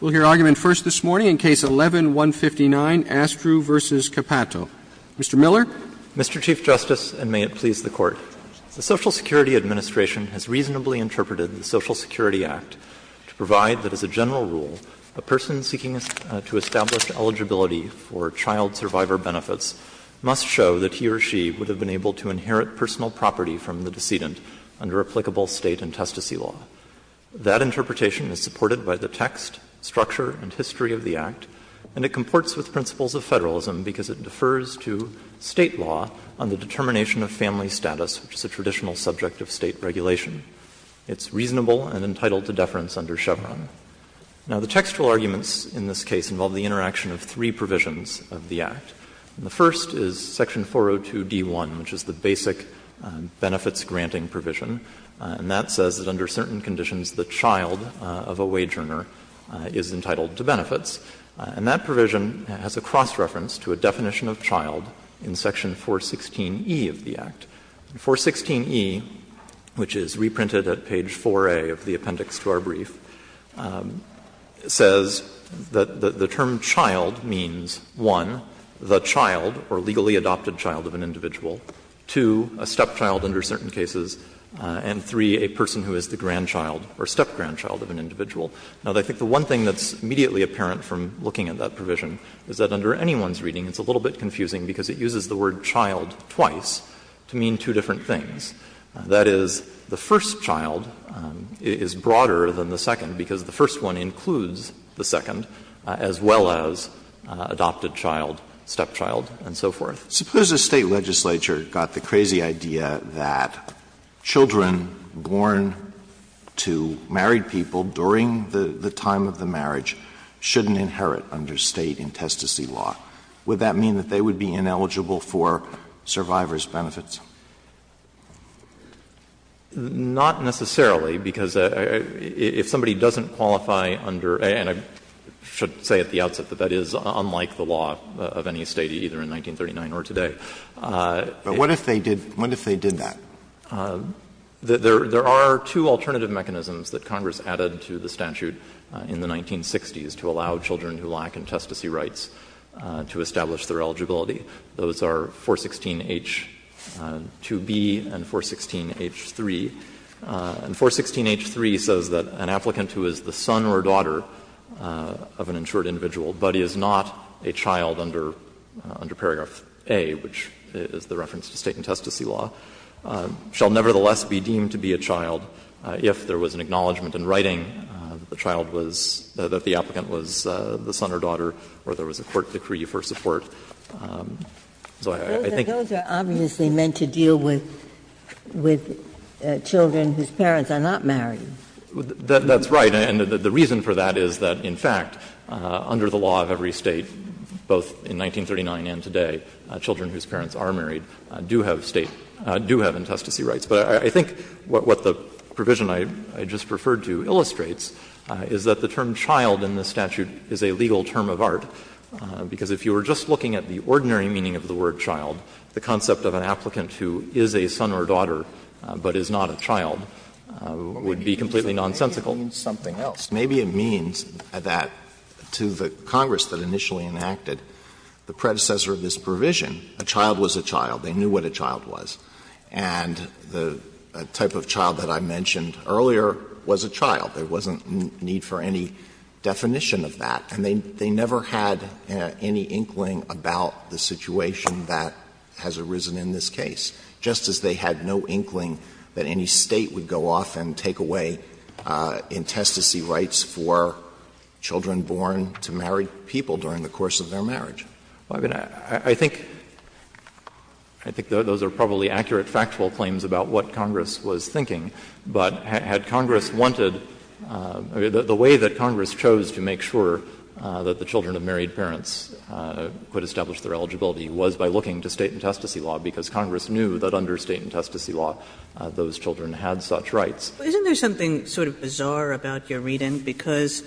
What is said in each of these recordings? We'll hear argument first this morning in Case 11-159, Astrue v. Capato. Mr. Miller. Mr. Chief Justice, and may it please the Court, the Social Security Administration has reasonably interpreted the Social Security Act to provide that, as a general rule, a person seeking to establish eligibility for child survivor benefits must show that he or she would have been able to inherit personal property from the decedent under applicable state and testicy law. That interpretation is supported by the text, structure, and history of the Act, and it comports with principles of federalism because it defers to state law on the determination of family status, which is a traditional subject of state regulation. It's reasonable and entitled to deference under Chevron. Now, the textual arguments in this case involve the interaction of three provisions of the Act. The first is section 402d1, which is the basic benefits-granting provision, and that says that under certain conditions, the child of a wage earner is entitled to benefits. And that provision has a cross-reference to a definition of child in section 416e of the Act. And 416e, which is reprinted at page 4a of the appendix to our brief, says that the term child means, one, the child or legally adopted child of an individual, two, a stepchild under certain cases, and, three, a person who is the grandchild or step-grandchild of an individual. Now, I think the one thing that's immediately apparent from looking at that provision is that under anyone's reading, it's a little bit confusing because it uses the word child twice to mean two different things. That is, the first child is broader than the second because the first one includes the second, as well as adopted child, stepchild, and so forth. Alitoso, suppose the State legislature got the crazy idea that children born to married people during the time of the marriage shouldn't inherit under State intestacy law. Would that mean that they would be ineligible for survivor's benefits? Not necessarily, because if somebody doesn't qualify under — and I should say at the outset that that is unlike the law of any State, either in 1939 or today. But what if they did that? There are two alternative mechanisms that Congress added to the statute in the 1960s to allow children who lack intestacy rights to establish their eligibility. Those are 416h-2b and 416h-3. And 416h-3 says that an applicant who is the son or daughter of an insured individual, but is not a child under paragraph A, which is the reference to State intestacy law, shall nevertheless be deemed to be a child if there was an acknowledgment in writing that the child was — that the applicant was the son or daughter or there was a court decree for support. So I think that's what Congress added. Ginsburg. Those are obviously meant to deal with children whose parents are not married. That's right. And the reason for that is that, in fact, under the law of every State, both in 1939 and today, children whose parents are married do have State — do have intestacy rights. But I think what the provision I just referred to illustrates is that the term child in the statute is a legal term of art. Because if you were just looking at the ordinary meaning of the word child, the concept of an applicant who is a son or daughter, but is not a child, would be completely nonsensical. Maybe it means something else. Maybe it means that to the Congress that initially enacted the predecessor of this provision, a child was a child. They knew what a child was. And the type of child that I mentioned earlier was a child. There wasn't need for any definition of that. And they never had any inkling about the situation that has arisen in this case, just as they had no inkling that any State would go off and take away intestacy rights for children born to married people during the course of their marriage. Well, I mean, I think — I think those are probably accurate factual claims about what Congress was thinking. But had Congress wanted — the way that Congress chose to make sure that the children of married parents could establish their eligibility was by looking to State intestacy law, because Congress knew that under State intestacy law, those children had such rights. Kagan. But isn't there something sort of bizarre about your reading? Because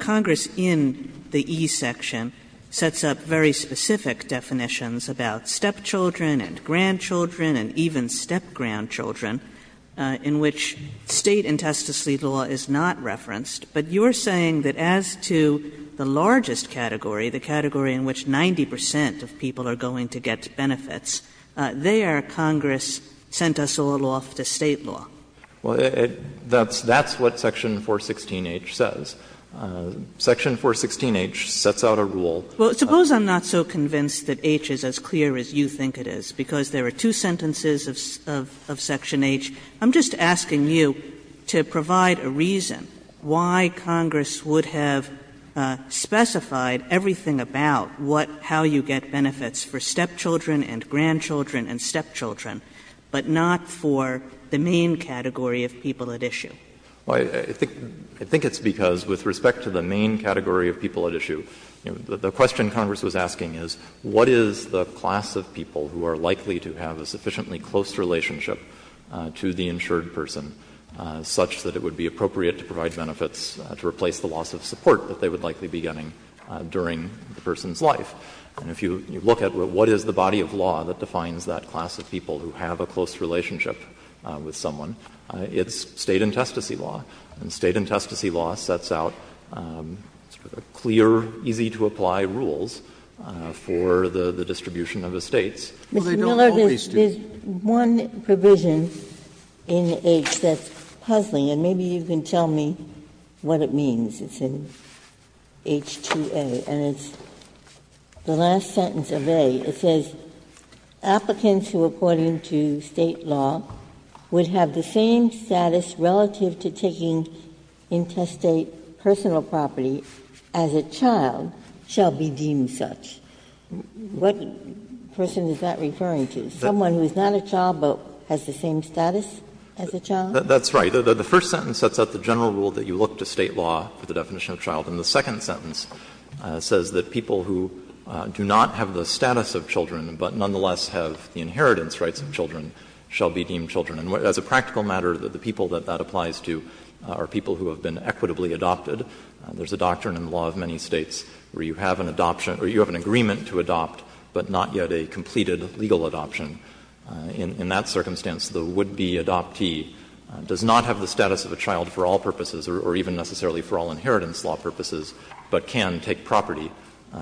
Congress, in the E section, sets up very specific definitions about stepchildren and grandchildren and even step-grandchildren in which State intestacy law is not referenced. But you're saying that as to the largest category, the category in which 90 percent of people are going to get benefits, there Congress sent us a little off to State law. Well, that's what section 416H says. Section 416H sets out a rule. Well, suppose I'm not so convinced that H is as clear as you think it is, because there are two sentences of section H. I'm just asking you to provide a reason why Congress would have specified everything about what — how you get benefits for stepchildren and grandchildren and stepchildren, but not for the main category of people at issue. Well, I think it's because with respect to the main category of people at issue, the question Congress was asking is, what is the class of people who are likely to have a sufficiently close relationship to the insured person such that it would be appropriate to provide benefits to replace the loss of support that they would likely be getting during the person's life. And if you look at what is the body of law that defines that class of people who have a close relationship with someone, it's State intestacy law. And State intestacy law sets out clear, easy-to-apply rules for the distribution of estates. Ginsburg. Mr. Miller, there's one provision in H that's puzzling, and maybe you can tell me what it means. It's in H2A, and it's the last sentence of A. It says, What person is that referring to, someone who is not a child but has the same status as a child? That's right. The first sentence sets out the general rule that you look to State law for the definition of child, and the second sentence says that people who do not have the status of children but nonetheless have the inheritance rights of children shall be deemed children. And as a practical matter, the people that that applies to are people who have been equitably adopted. There's a doctrine in the law of many States where you have an adoption or you have an agreement to adopt, but not yet a completed legal adoption. In that circumstance, the would-be adoptee does not have the status of a child for all purposes or even necessarily for all inheritance law purposes, but can take property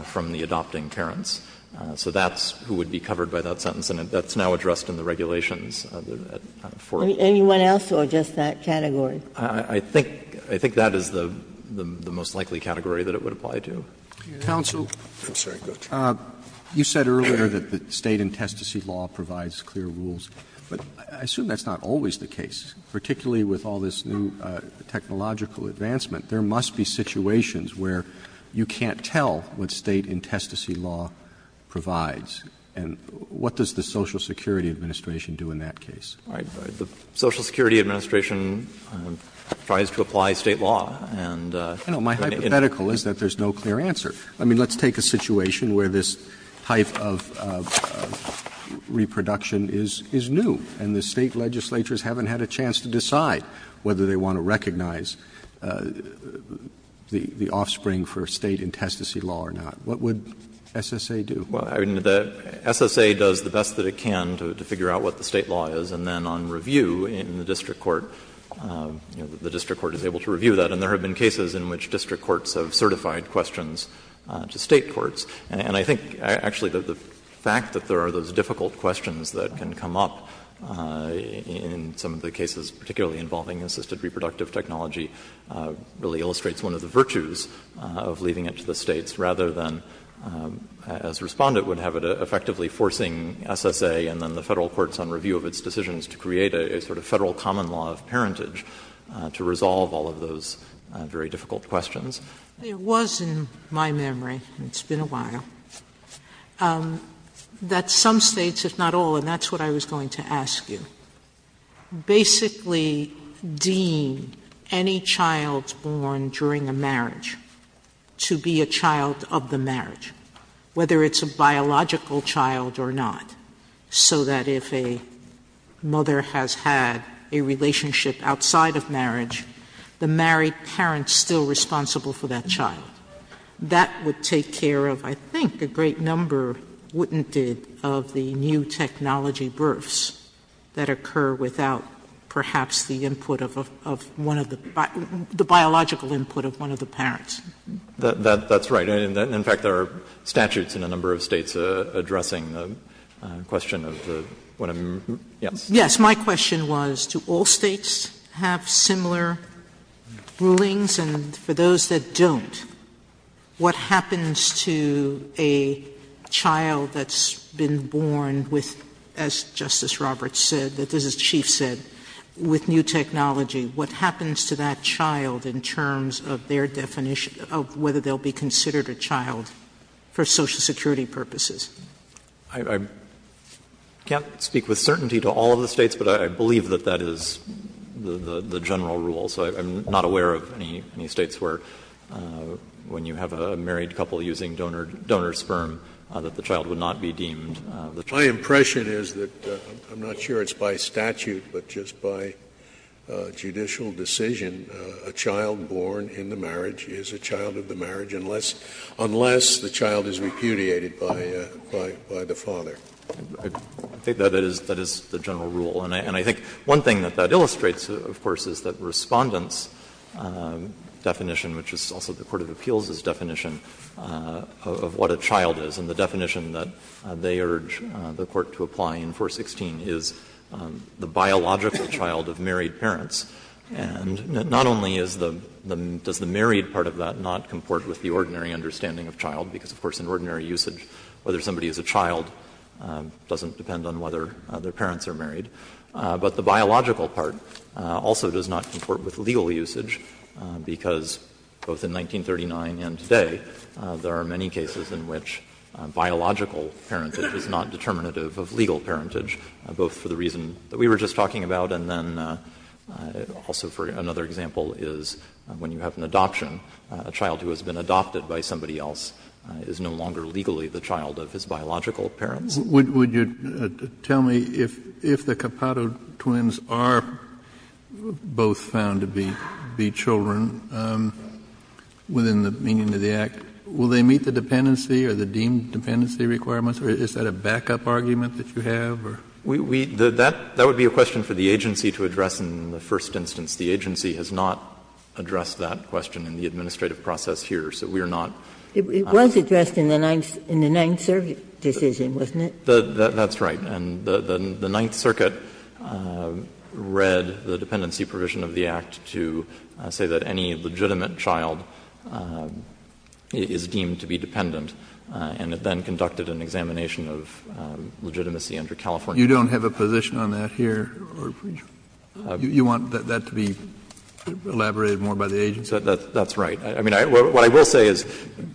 from the adopting parents. So that's who would be covered by that sentence, and that's now addressed in the regulations at Fort. Ginsburg. Anyone else or just that category? I think that is the most likely category that it would apply to. Counsel. I'm sorry. Go ahead. You said earlier that the State intestacy law provides clear rules, but I assume that's not always the case, particularly with all this new technological advancement. There must be situations where you can't tell what State intestacy law provides. And what does the Social Security Administration do in that case? Right. The Social Security Administration tries to apply State law and in a way it's not clear. My hypothetical is that there's no clear answer. I mean, let's take a situation where this type of reproduction is new and the State does the best that it can to figure out what the State law is, and then on review in the district court, you know, the district court is able to review that, and there have been cases in which district courts have certified questions to State courts. And I think actually the fact that there are those difficult questions that can come up in some of the cases, particularly involving assisted reproductive technology really illustrates one of the virtues of leaving it to the States, rather than, as Respondent would have it, effectively forcing SSA and then the Federal courts on review of its decisions to create a sort of Federal common law of parentage to resolve all of those very difficult questions. Sotomayor It was in my memory, and it's been a while, that some States, if not all, and that's what I was going to ask you, basically deem any child born during a marriage to be a child of the marriage, whether it's a biological child or not, so that if a mother has had a relationship outside of marriage, the married parent is still responsible for that child. That would take care of, I think, a great number, wouldn't it, of the new technology births that occur without perhaps the input of one of the biological input of one of the parents? That's right. In fact, there are statutes in a number of States addressing the question of the one of the yes. Sotomayor Yes. My question was, do all States have similar rulings? And for those that don't, what happens to a child that's been born with a biological input, as Justice Roberts said, that, as the Chief said, with new technology, what happens to that child in terms of their definition of whether they'll be considered a child for Social Security purposes? Justice Breyer I can't speak with certainty to all of the States, but I believe that that is the general rule. So I'm not aware of any States where, when you have a married couple using donor sperm, that the child would not be deemed the child. My impression is that, I'm not sure it's by statute, but just by judicial decision, a child born in the marriage is a child of the marriage unless the child is repudiated by the father. I think that is the general rule. And I think one thing that that illustrates, of course, is that Respondent's definition, which is also the court of appeals' definition of what a child is, and the definition that they urge the Court to apply in 416 is the biological child of married parents. And not only is the — does the married part of that not comport with the ordinary understanding of child, because, of course, in ordinary usage, whether somebody is a child doesn't depend on whether their parents are married, but the biological part also does not comport with legal usage, because both in 1939 and today, there are many cases in which biological parentage is not determinative of legal parentage, both for the reason that we were just talking about, and then also for another example is when you have an adoption, a child who has been adopted by somebody else is no longer legally the child of his biological parents. Kennedy, would you tell me if the Capado twins are both found to be children within the meaning of the Act, will they meet the dependency or the deemed dependency requirements, or is that a backup argument that you have, or? That would be a question for the agency to address in the first instance. The agency has not addressed that question in the administrative process here, so we are not. It was addressed in the Ninth Circuit decision, wasn't it? That's right. And the Ninth Circuit read the dependency provision of the Act to say that any legitimate child is deemed to be dependent, and it then conducted an examination of legitimacy under California. You don't have a position on that here? You want that to be elaborated more by the agency? That's right. I mean, what I will say is,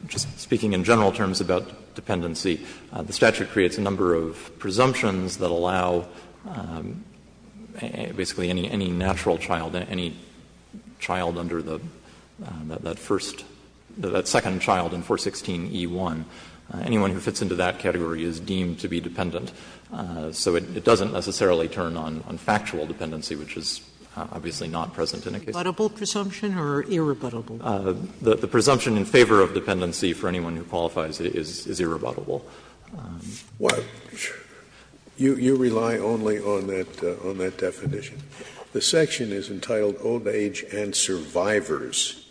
just speaking in general terms about dependency, the statute creates a number of presumptions that allow basically any natural child, any child under the first or second child in 416e1, anyone who fits into that category is deemed to be dependent. So it doesn't necessarily turn on factual dependency, which is obviously not present in a case like this. Irrebuttable presumption or irrebuttable? The presumption in favor of dependency for anyone who qualifies is irrebuttable. Well, you rely only on that definition. The section is entitled Old Age and Survivors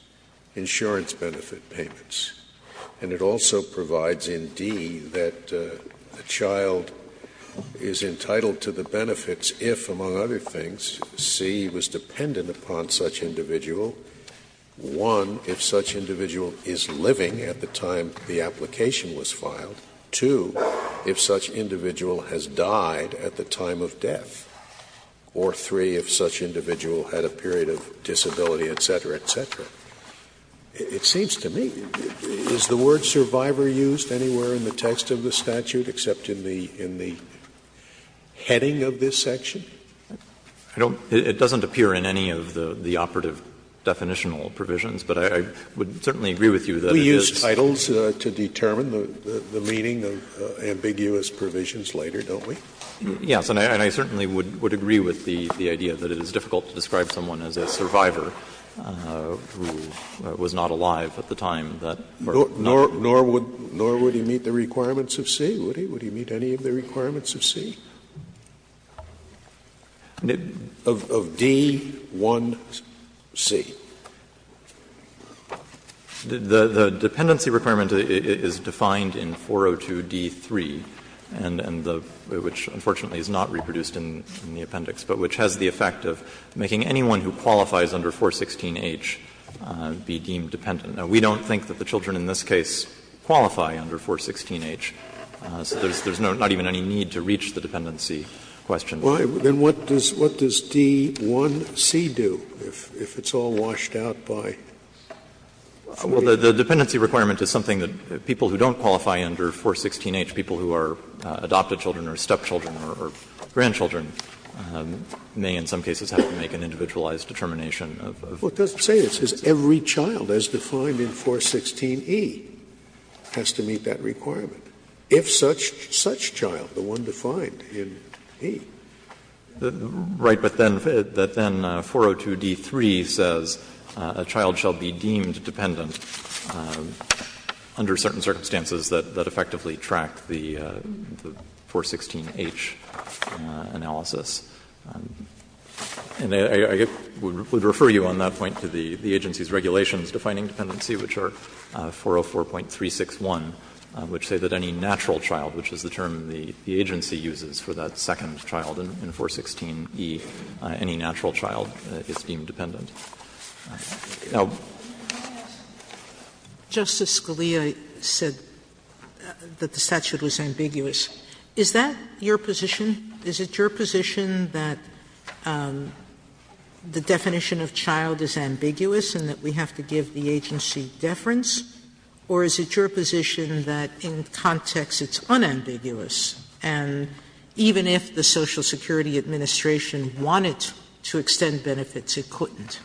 Insurance Benefit Payments, and it also provides in D that the child is entitled to the benefits if, among other things, C, was dependent upon such individual, one, if such individual is living at the time of the application was filed, two, if such individual has died at the time of death, or three, if such individual had a period of disability, et cetera, et cetera. It seems to me, is the word survivor used anywhere in the text of the statute except in the heading of this section? I don't know. It doesn't appear in any of the operative definitional provisions, but I would certainly agree with you that it is. Scalia's titles to determine the meaning of ambiguous provisions later, don't we? Yes, and I certainly would agree with the idea that it is difficult to describe someone as a survivor who was not alive at the time that birth. Nor would he meet the requirements of C, would he? Would he meet any of the requirements of C? Of D, 1, C. The dependency requirement is defined in 402d3, which unfortunately is not reproduced in the appendix, but which has the effect of making anyone who qualifies under 416h be deemed dependent. We don't think that the children in this case qualify under 416h, so there's not even any need to reach the dependency question. Scalia, then what does D, 1, C do, if it's all washed out by 416h? Well, the dependency requirement is something that people who don't qualify under 416h, people who are adopted children or stepchildren or grandchildren may in some cases have to make an individualized determination of. Well, it doesn't say this. It says every child as defined in 416e has to meet that requirement. If such child, the one defined in D. Right, but then 402d3 says a child shall be deemed dependent under certain circumstances that effectively track the 416h analysis. And I would refer you on that point to the agency's regulations defining dependency, which are 404.361, which say that any natural child, which is the term the agency uses for that second child in 416e, any natural child is deemed dependent. Now, Justice Scalia said that the statute was ambiguous. Is that your position? Is it your position that the definition of child is ambiguous and that we have to give the agency deference, or is it your position that in context it's unambiguous and even if the Social Security Administration wanted to extend benefits, it couldn't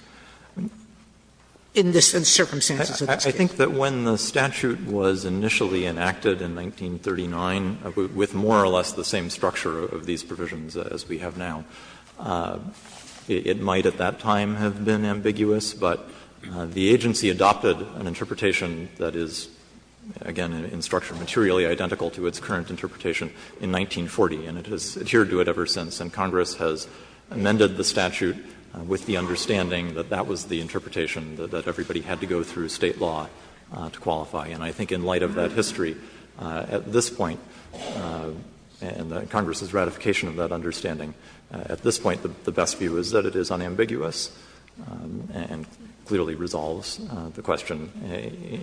in the circumstances of this case? I think that when the statute was initially enacted in 1939, with more or less the same structure of these provisions as we have now, it might at that time have been the case that the agency adopted an interpretation that is, again, in structure materially identical to its current interpretation in 1940, and it has adhered to it ever since, and Congress has amended the statute with the understanding that that was the interpretation that everybody had to go through State law to qualify. And I think in light of that history, at this point, and Congress's ratification of that understanding, at this point, the best view is that it is unambiguous and clearly resolves the question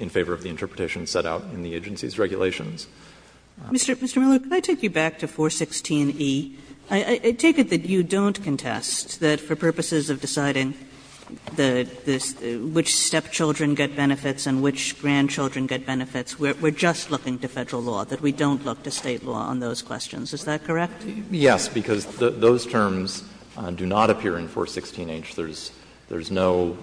in favor of the interpretation set out in the agency's regulations. Kagan. Mr. Miller, can I take you back to 416e? I take it that you don't contest that for purposes of deciding which stepchildren get benefits and which grandchildren get benefits, we're just looking to Federal law, that we don't look to State law on those questions. Is that correct? Yes, because those terms do not appear in 416h. There's no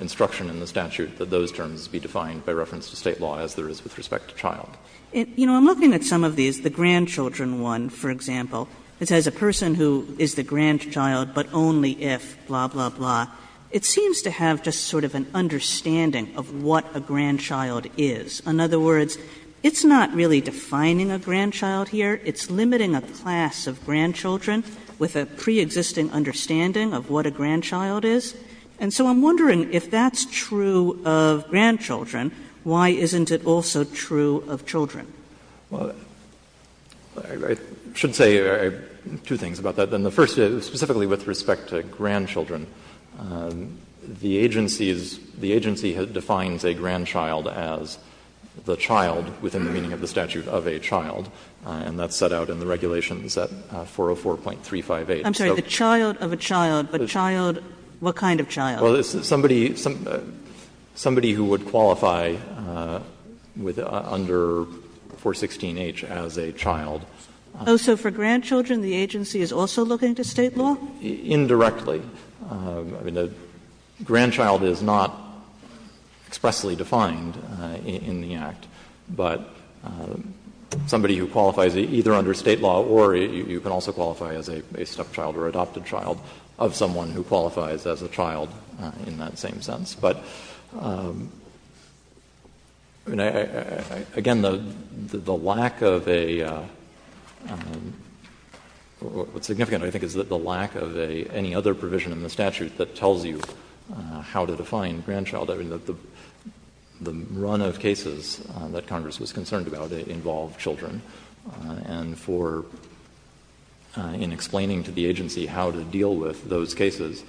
instruction in the statute that those terms be defined by reference to State law as there is with respect to child. You know, I'm looking at some of these, the grandchildren one, for example. It says a person who is the grandchild, but only if, blah, blah, blah. It seems to have just sort of an understanding of what a grandchild is. In other words, it's not really defining a grandchild here. It's limiting a class of grandchildren with a preexisting understanding of what a grandchild is. And so I'm wondering, if that's true of grandchildren, why isn't it also true of children? Well, I should say two things about that. Then the first is, specifically with respect to grandchildren, the agency is the agency defines a grandchild as the child within the meaning of the statute of a child. And that's set out in the regulations at 404.358. I'm sorry, the child of a child, but child, what kind of child? Well, somebody who would qualify under 416h as a child. Oh, so for grandchildren, the agency is also looking to State law? Indirectly. I mean, a grandchild is not expressly defined in the Act. But somebody who qualifies either under State law or you can also qualify as a stepchild or adopted child of someone who qualifies as a child in that same sense. But, again, the lack of a — what's significant, I think, is the lack of any other provision in the statute that tells you how to define grandchild. I mean, the run of cases that Congress was concerned about involved children. And for — in explaining to the agency how to deal with those cases,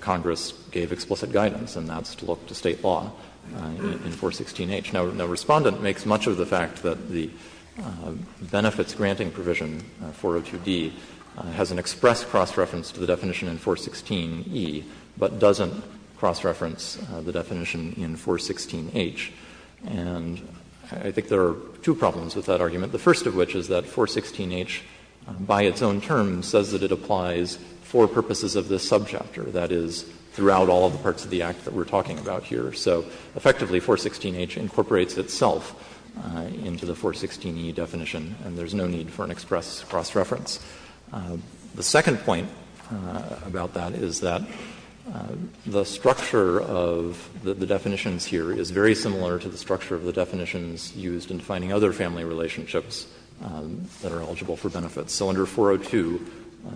Congress gave explicit guidance, and that's to look to State law in 416h. Now, the Respondent makes much of the fact that the benefits granting provision 402d has an express cross-reference to the definition in 416e, but doesn't cross-reference the definition in 416h. And I think there are two problems with that argument, the first of which is that 416h by its own term says that it applies for purposes of this subchapter, that is, throughout all of the parts of the Act that we're talking about here. So effectively, 416h incorporates itself into the 416e definition, and there's no need for an express cross-reference. The second point about that is that the structure of the definitions here is very similar to the structure of the definitions used in defining other family relationships that are eligible for benefits. So under 402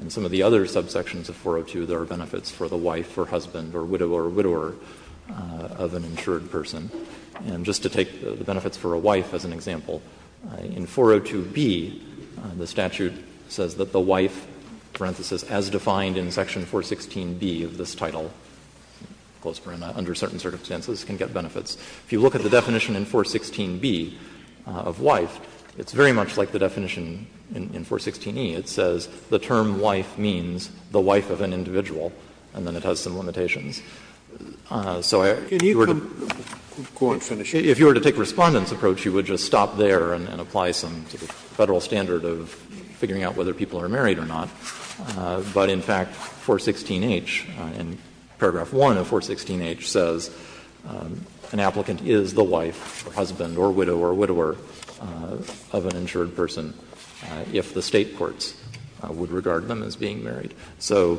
and some of the other subsections of 402, there are benefits for the wife or husband or widow or widower of an insured person. And just to take the benefits for a wife as an example, in 402b, the statute says that the wife, parenthesis, as defined in section 416b of this title, close parenthesis, under certain circumstances, can get benefits. If you look at the definition in 416b of wife, it's very much like the definition in 416e. It says the term wife means the wife of an individual, and then it has some limitations. So if you were to take the Respondent's approach, you would just stop there and apply some sort of Federal standard of figuring out whether people are married or not. But, in fact, 416h, in paragraph 1 of 416h, says an applicant is the wife or husband or widow or widower of an insured person if the State courts would regard them as being married. So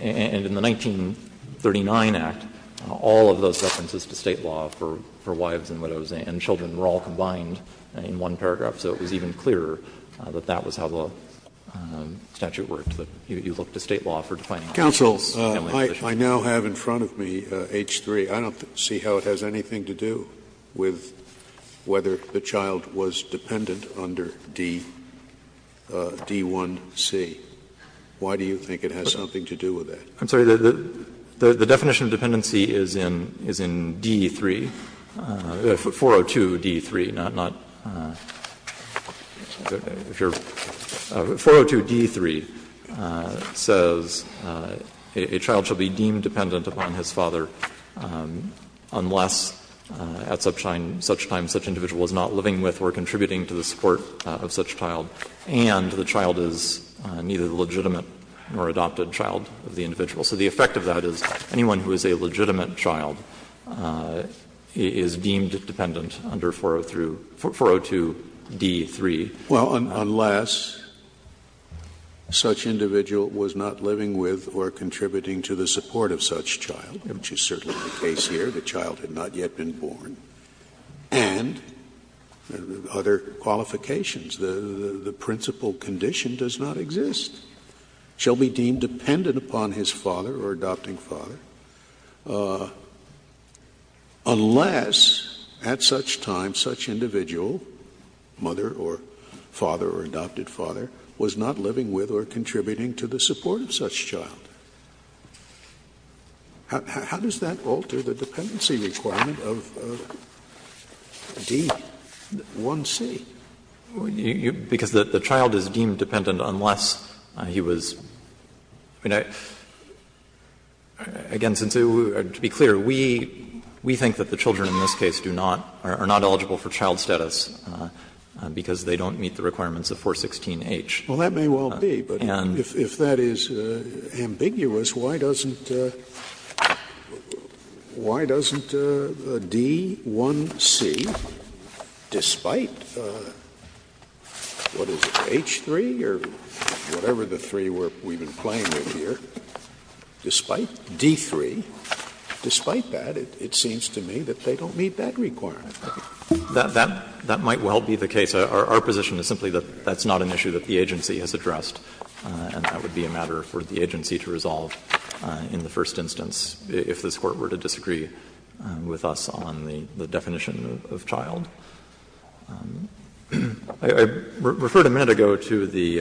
in the 1939 Act, all of those references to State law for wives and widows and children were all combined in one paragraph, so it was even clearer that that was how the statute worked. You look to State law for defining all of those. Scalia Counsel, I now have in front of me H3. I don't see how it has anything to do with whether the child was dependent under D1c. Why do you think it has something to do with that? I'm sorry. The definition of dependency is in D3, 402d3, not 402d3 says a child shall be deemed dependent upon his father unless at such time such individual is not living with or contributing to the support of such child, and the child is neither the legitimate nor adopted child of the individual. So the effect of that is anyone who is a legitimate child is deemed dependent under 402d3. Scalia Well, unless such individual was not living with or contributing to the support of such child, which is certainly the case here, the child had not yet been born, and other qualifications, the principal condition does not exist, shall be deemed dependent upon his father or adopting father unless at such time such individual, mother or father or adopted father, was not living with or contributing to the support of such child. How does that alter the dependency requirement of D1c? Because the child is deemed dependent unless he was, I mean, again, to be clear, we think that the children in this case do not, are not eligible for child status because they don't meet the requirements of 416h. Scalia Well, that may well be, but if that is ambiguous, why doesn't D1c, despite the fact that, what is it, H3 or whatever the three we have been playing with here, despite D3, despite that, it seems to me that they don't meet that requirement. That might well be the case. Our position is simply that that's not an issue that the agency has addressed and that would be a matter for the agency to resolve in the first instance if this Court were to disagree with us on the definition of child. I referred a minute ago to the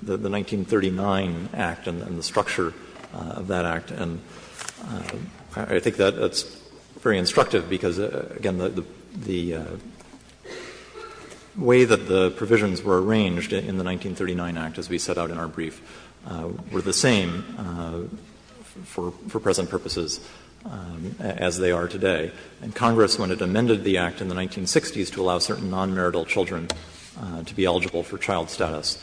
1939 Act and the structure of that Act, and I think that's very instructive because, again, the way that the provisions were arranged in the 1939 Act, as we set out in our brief, were the same for present purposes as they are today. And Congress, when it amended the Act in the 1960s to allow certain non-marital children to be eligible for child status,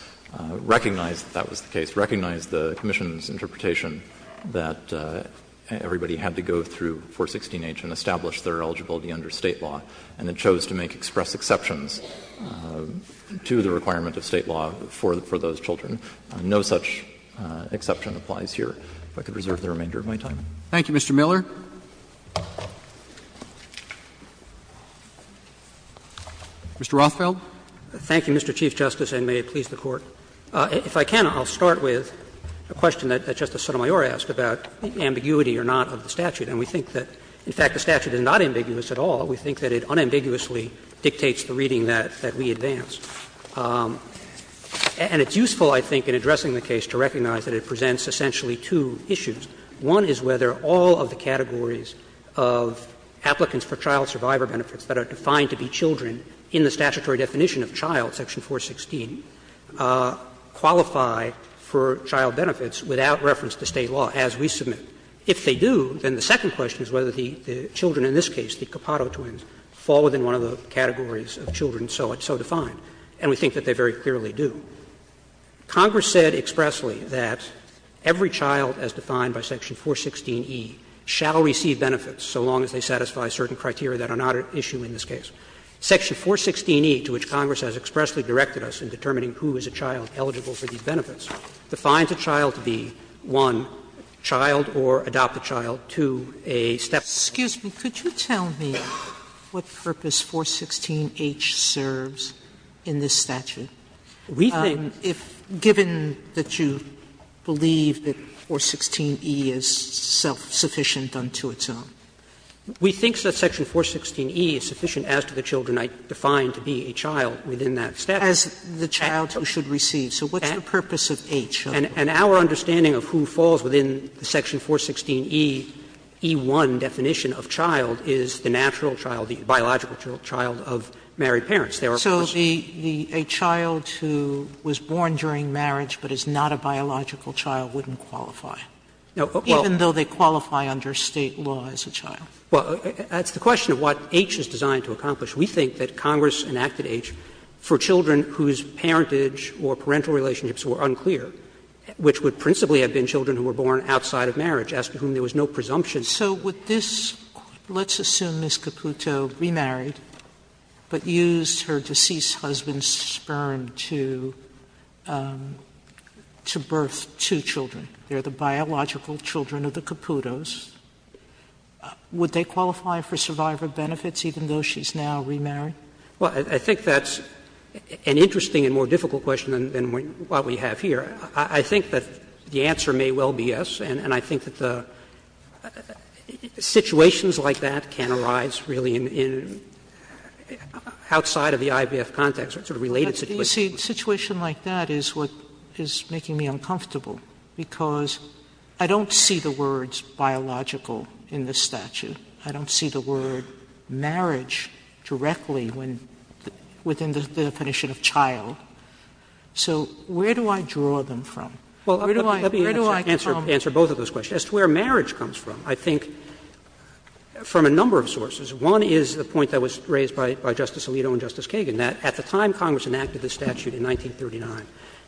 recognized that that was the case, recognized the commission's interpretation that everybody had to go through 416h and establish their eligibility under State law, and it chose to make express exceptions to the requirement of State law for those children. No such exception applies here. If I could reserve the remainder of my time. Roberts Thank you, Mr. Miller. Mr. Rothfeld. Rothfeld Thank you, Mr. Chief Justice, and may it please the Court. If I can, I'll start with a question that Justice Sotomayor asked about ambiguity or not of the statute. And we think that, in fact, the statute is not ambiguous at all. We think that it unambiguously dictates the reading that we advance. And it's useful, I think, in addressing the case to recognize that it presents essentially two issues. One is whether all of the categories of applicants for child survivor benefits that are defined to be children in the statutory definition of child, section 416, qualify for child benefits without reference to State law as we submit. If they do, then the second question is whether the children in this case, the Capado twins, fall within one of the categories of children so defined. And we think that they very clearly do. Congress said expressly that every child, as defined by section 416e, shall receive benefits so long as they satisfy certain criteria that are not at issue in this case. Section 416e, to which Congress has expressly directed us in determining who is a child eligible for these benefits, defines a child to be, one, child or adopt a child, two, a stepchild. Sotomayor Excuse me. Could you tell me what purpose 416h serves in this statute? If, given that you believe that 416e is self-sufficient unto its own. We think that section 416e is sufficient as to the children I defined to be a child within that statute. As the child who should receive. So what's the purpose of h? And our understanding of who falls within the section 416e, e1 definition of child is the natural child, the biological child of married parents. So a child who was born during marriage but is not a biological child wouldn't qualify, even though they qualify under State law as a child. Well, that's the question of what h is designed to accomplish. We think that Congress enacted h for children whose parentage or parental relationships were unclear, which would principally have been children who were born outside of marriage, as to whom there was no presumption. Sotomayor So with this, let's assume Ms. Caputo remarried, but used her deceased husband's sperm to birth two children. They are the biological children of the Caputos. Would they qualify for survivor benefits, even though she's now remarried? Well, I think that's an interesting and more difficult question than what we have here. I think that the answer may well be yes. And I think that the situations like that can arise really in outside of the IVF context, sort of related situations. Sotomayor But, you see, a situation like that is what is making me uncomfortable, because I don't see the words biological in this statute. I don't see the word marriage directly within the definition of child. So where do I draw them from? Where do I come from? Well, let me answer both of those questions. As to where marriage comes from, I think from a number of sources. One is the point that was raised by Justice Alito and Justice Kagan, that at the time Congress enacted this statute in 1939,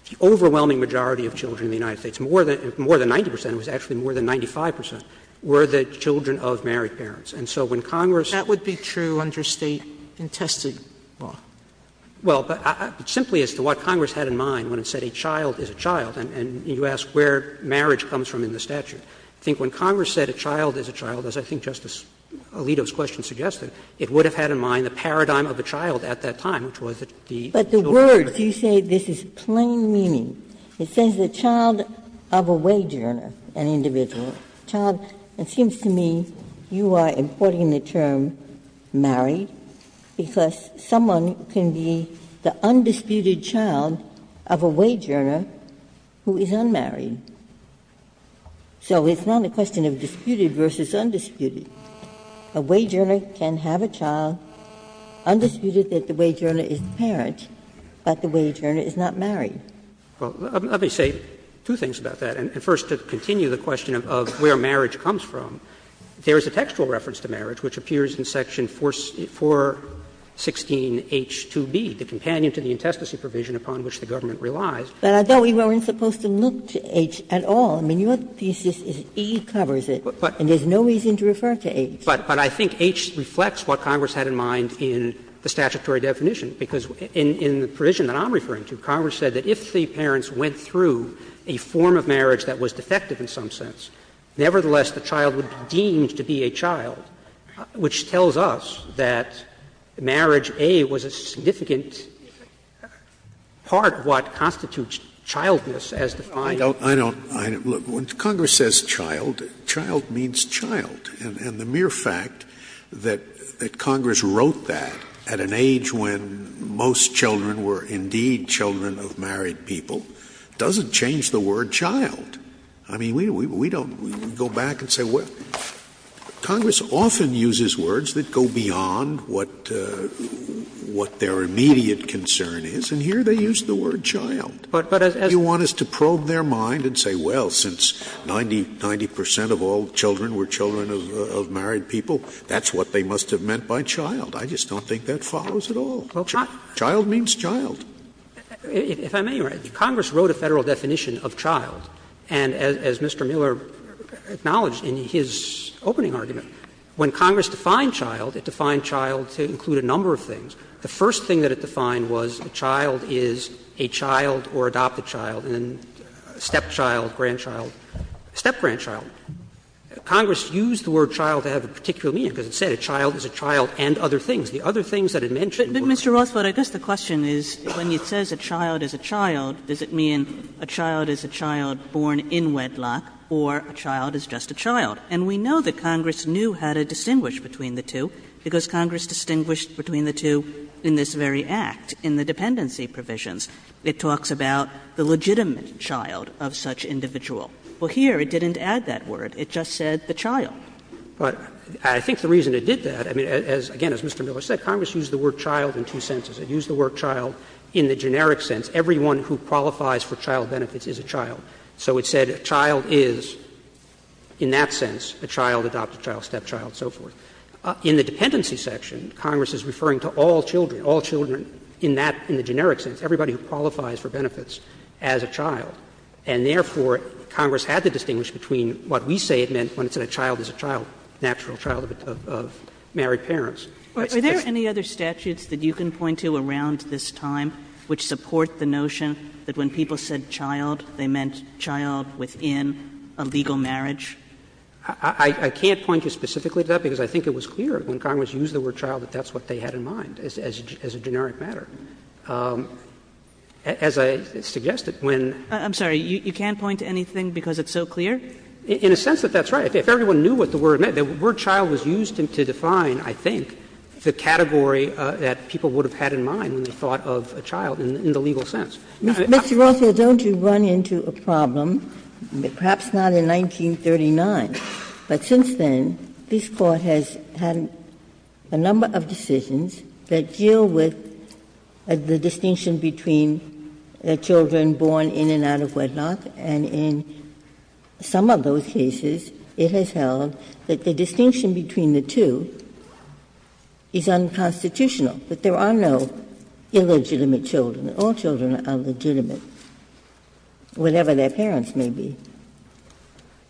the overwhelming majority of children in the United States, more than 90 percent, it was actually more than 95 percent, were the children of married parents. And so when Congress Sotomayor That would be true under State intestinal law. Well, but simply as to what Congress had in mind when it said a child is a child, and you ask where marriage comes from in the statute, I think when Congress said a child is a child, as I think Justice Alito's question suggested, it would have had in mind the paradigm of a child at that time, which was the children of married parents. Ginsburg But the words, you say this is plain meaning. It says the child of a wage earner, an individual, child. It seems to me you are importing the term married because someone can be the undisputed child of a wage earner who is unmarried. So it's not a question of disputed versus undisputed. A wage earner can have a child, undisputed that the wage earner is the parent, but the wage earner is not married. Roberts Well, let me say two things about that. First, to continue the question of where marriage comes from, there is a textual reference to marriage which appears in section 416H2B, the companion to the intestacy provision upon which the government relies. Ginsburg But I thought we weren't supposed to look to H at all. I mean, your thesis is E covers it, and there's no reason to refer to H. Roberts But I think H reflects what Congress had in mind in the statutory definition, because in the provision that I'm referring to, Congress said that if the parents went through a form of marriage that was defective in some sense, nevertheless, the child would be deemed to be a child, which tells us that marriage, A, was a significant part of what constitutes childness as defined in the statute. Scalia I don't – look, when Congress says child, child means child. And the mere fact that Congress wrote that at an age when most children were indeed children of married people doesn't change the word child. I mean, we don't go back and say, well, Congress often uses words that go beyond what their immediate concern is, and here they use the word child. They want us to probe their mind and say, well, since 90 percent of all children were children of married people, that's what they must have meant by child. I just don't think that follows at all. Child means child. If I may, Your Honor, Congress wrote a Federal definition of child, and as Mr. Miller acknowledged in his opening argument, when Congress defined child, it defined child to include a number of things. The first thing that it defined was a child is a child or adopted child, and then stepchild, grandchild, step-grandchild. Congress used the word child to have a particular meaning, because it said a child is a child and other things. The other things that it mentioned were children. But, Mr. Rothfeld, I guess the question is, when it says a child is a child, does it mean a child is a child born in wedlock or a child is just a child? And we know that Congress knew how to distinguish between the two, because Congress distinguished between the two in this very Act, in the dependency provisions. It talks about the legitimate child of such individual. Well, here it didn't add that word. It just said the child. Rothfeld. But I think the reason it did that, I mean, as, again, as Mr. Miller said, Congress used the word child in two senses. It used the word child in the generic sense. Everyone who qualifies for child benefits is a child. So it said a child is, in that sense, a child, adopted child, stepchild, and so forth. In the dependency section, Congress is referring to all children, all children in that, in the generic sense, everybody who qualifies for benefits as a child. And therefore, Congress had to distinguish between what we say it meant when it said a child is a child, natural child of married parents. That's just. Kagan. Are there any other statutes that you can point to around this time which support the notion that when people said child, they meant child within a legal marriage? I can't point you specifically to that, because I think it was clear when Congress used the word child that that's what they had in mind, as a generic matter. As I suggested, when. I'm sorry, you can't point to anything because it's so clear? In a sense that that's right. If everyone knew what the word meant, the word child was used to define, I think, the category that people would have had in mind when they thought of a child in the legal sense. Now, I'm not sure. Ginsburg. Mr. Rothfeld, don't you run into a problem, perhaps not in 1939, but since then, this Court has had a number of decisions that deal with the distinction between children born in and out of wedlock, and in some of those cases, it has held that the distinction between the two is unconstitutional, that there are no illegitimate children. All children are legitimate, whatever their parents may be.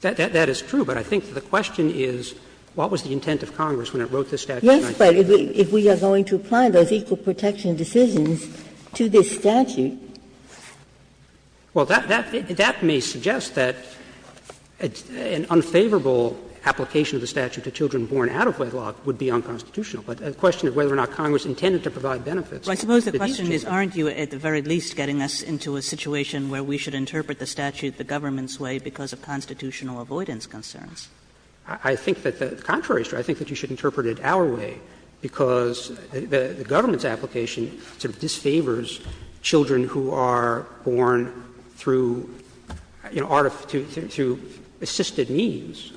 That is true, but I think the question is what was the intent of Congress when it wrote this statute in 1939? Yes, but if we are going to apply those equal protection decisions to this statute. Well, that may suggest that an unfavorable application of the statute to children born out of wedlock would be unconstitutional. But the question is whether or not Congress intended to provide benefits. But these two. I suppose the question is, aren't you at the very least getting us into a situation where we should interpret the statute the government's way because of constitutional avoidance concerns? I think that the contrary is true. I think that you should interpret it our way, because the government's application sort of disfavors children who are born through, you know, assisted means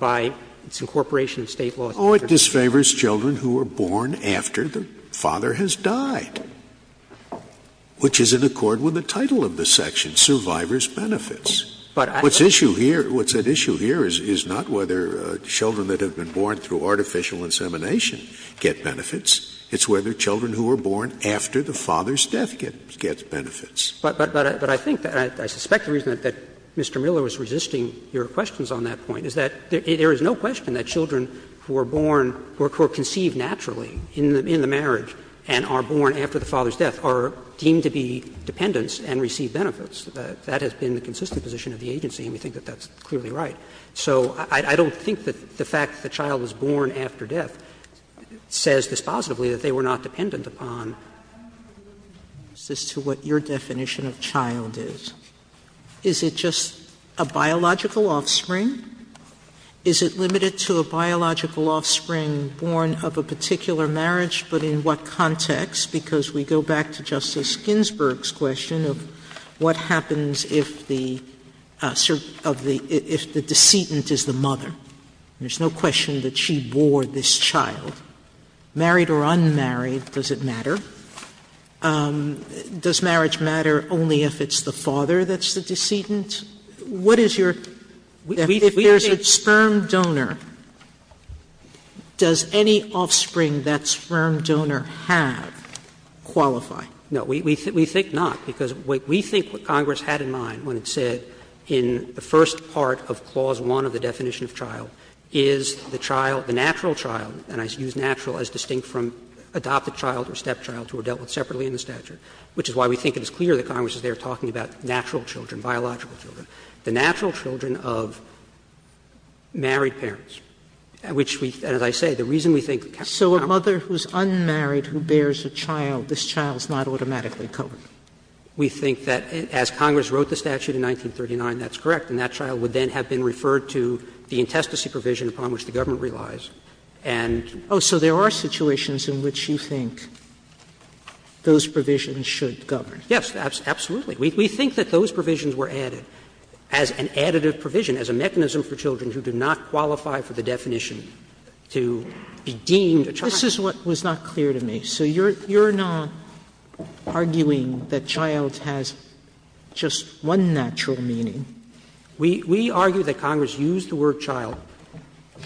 by its incorporation of State law. Scalia. Oh, it disfavors children who are born after the father has died, which is in accord with the title of the section, Survivors' Benefits. What's at issue here is not whether children that have been born through assisted means, through artificial insemination, get benefits. It's whether children who are born after the father's death get benefits. But I think that, and I suspect the reason that Mr. Miller was resisting your questions on that point, is that there is no question that children who are born, who are conceived naturally in the marriage and are born after the father's death are deemed to be dependents and receive benefits. That has been the consistent position of the agency, and we think that that's clearly right. So I don't think that the fact that the child was born after death says dispositively that they were not dependent upon. Sotomayor, I have a little bit of resistance to what your definition of child is. Is it just a biological offspring? Is it limited to a biological offspring born of a particular marriage, but in what context? Because we go back to Justice Ginsburg's question of what happens if the, if the decedent is the mother, and there's no question that she bore this child. Married or unmarried, does it matter? Does marriage matter only if it's the father that's the decedent? What is your – if there's a sperm donor, does any offspring that sperm donor have qualify? No, we think not, because we think what Congress had in mind when it said in the first part of clause 1 of the definition of child is the child, the natural child, and I use natural as distinct from adopted child or stepchild who are dealt with separately in the statute, which is why we think it is clear that Congress is there talking about natural children, biological children, the natural children of married parents, which we, as I say, the reason we think that countries can't do that is because would then have been referred to the intestacy provision upon which the government relies. And so there are situations in which you think those provisions should govern. Yes, absolutely. We think that those provisions were added as an additive provision, as a mechanism for children who do not qualify for the definition to be deemed a child. This is what was not clear to me. So you're not arguing that child has just one natural meaning? We argue that Congress used the word child.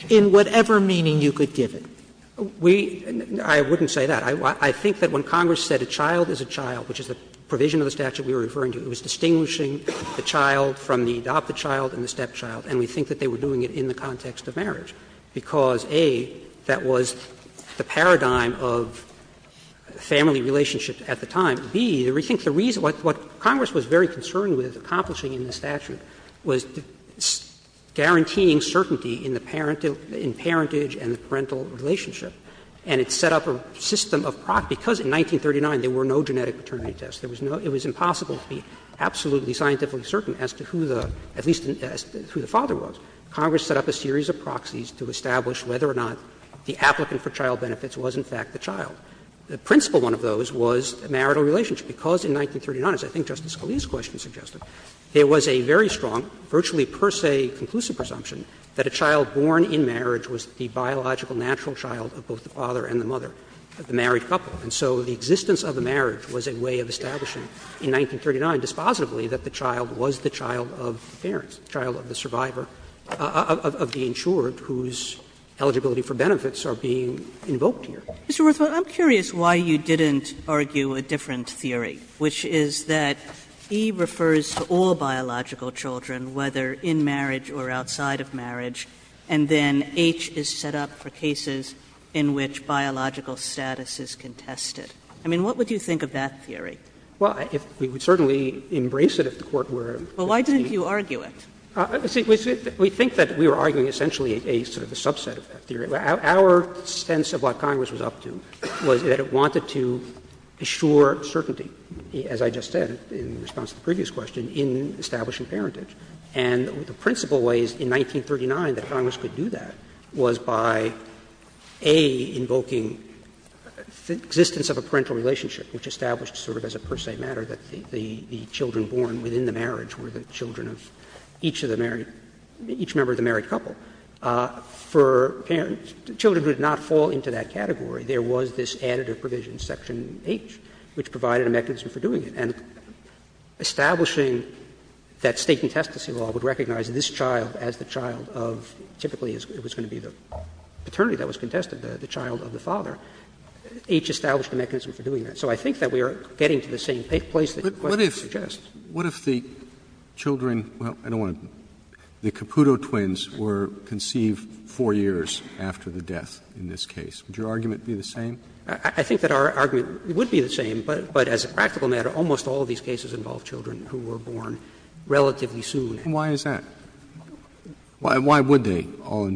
In whatever meaning you could give it. We — I wouldn't say that. I think that when Congress said a child is a child, which is the provision of the statute we were referring to, it was distinguishing the child from the adopted child and the stepchild, and we think that they were doing it in the context of marriage, because, A, that was the paradigm of family relationship at the time. And, B, we think the reason — what Congress was very concerned with accomplishing in the statute was guaranteeing certainty in the parentage and the parental relationship, and it set up a system of — because in 1939 there were no genetic paternity tests, there was no — it was impossible to be absolutely scientifically certain as to who the — at least as to who the father was. Congress set up a series of proxies to establish whether or not the applicant for child benefits was, in fact, the child. The principal one of those was a marital relationship, because in 1939, as I think Justice Scalia's question suggested, there was a very strong, virtually per se conclusive presumption that a child born in marriage was the biological natural child of both the father and the mother of the married couple. And so the existence of a marriage was a way of establishing in 1939 dispositively that the child was the child of the parents, the child of the survivor, of the insured whose eligibility for benefits are being invoked here. Kagan. Mr. Rothfeld, I'm curious why you didn't argue a different theory, which is that E refers to all biological children, whether in marriage or outside of marriage, and then H is set up for cases in which biological status is contested. I mean, what would you think of that theory? Rothfeld. Well, we would certainly embrace it if the Court were to be— Well, why didn't you argue it? Our sense of what Congress was up to was that it wanted to assure certainty, as I just said in response to the previous question, in establishing parentage. And the principal ways in 1939 that Congress could do that was by, A, invoking the existence of a parental relationship, which established sort of as a per se matter that the children born within the marriage were the children of each of the married — each member of the married couple. For parents, children would not fall into that category. There was this additive provision, section H, which provided a mechanism for doing it. And establishing that State contestancy law would recognize this child as the child of, typically it was going to be the paternity that was contested, the child of the father. H established a mechanism for doing that. So I think that we are getting to the same place that your question suggests. Roberts What if the children — well, I don't want to — the Caputo twins were conceived 4 years after the death in this case? Would your argument be the same? I think that our argument would be the same, but as a practical matter, almost all of these cases involve children who were born relatively soon. And why is that? Why would they all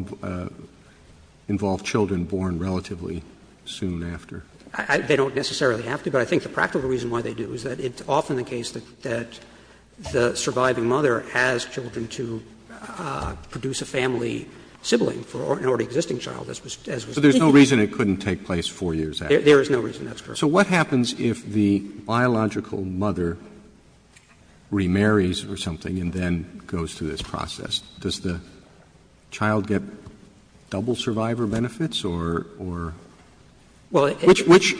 involve children born relatively soon after? They don't necessarily have to, but I think the practical reason why they do is that it's often the case that the surviving mother has children to produce a family sibling for an already existing child, as was the case. Roberts So there's no reason it couldn't take place 4 years after? Roberts There is no reason that's correct. Roberts So what happens if the biological mother remarries or something and then goes through this process? Does the child get double survivor benefits or — or — which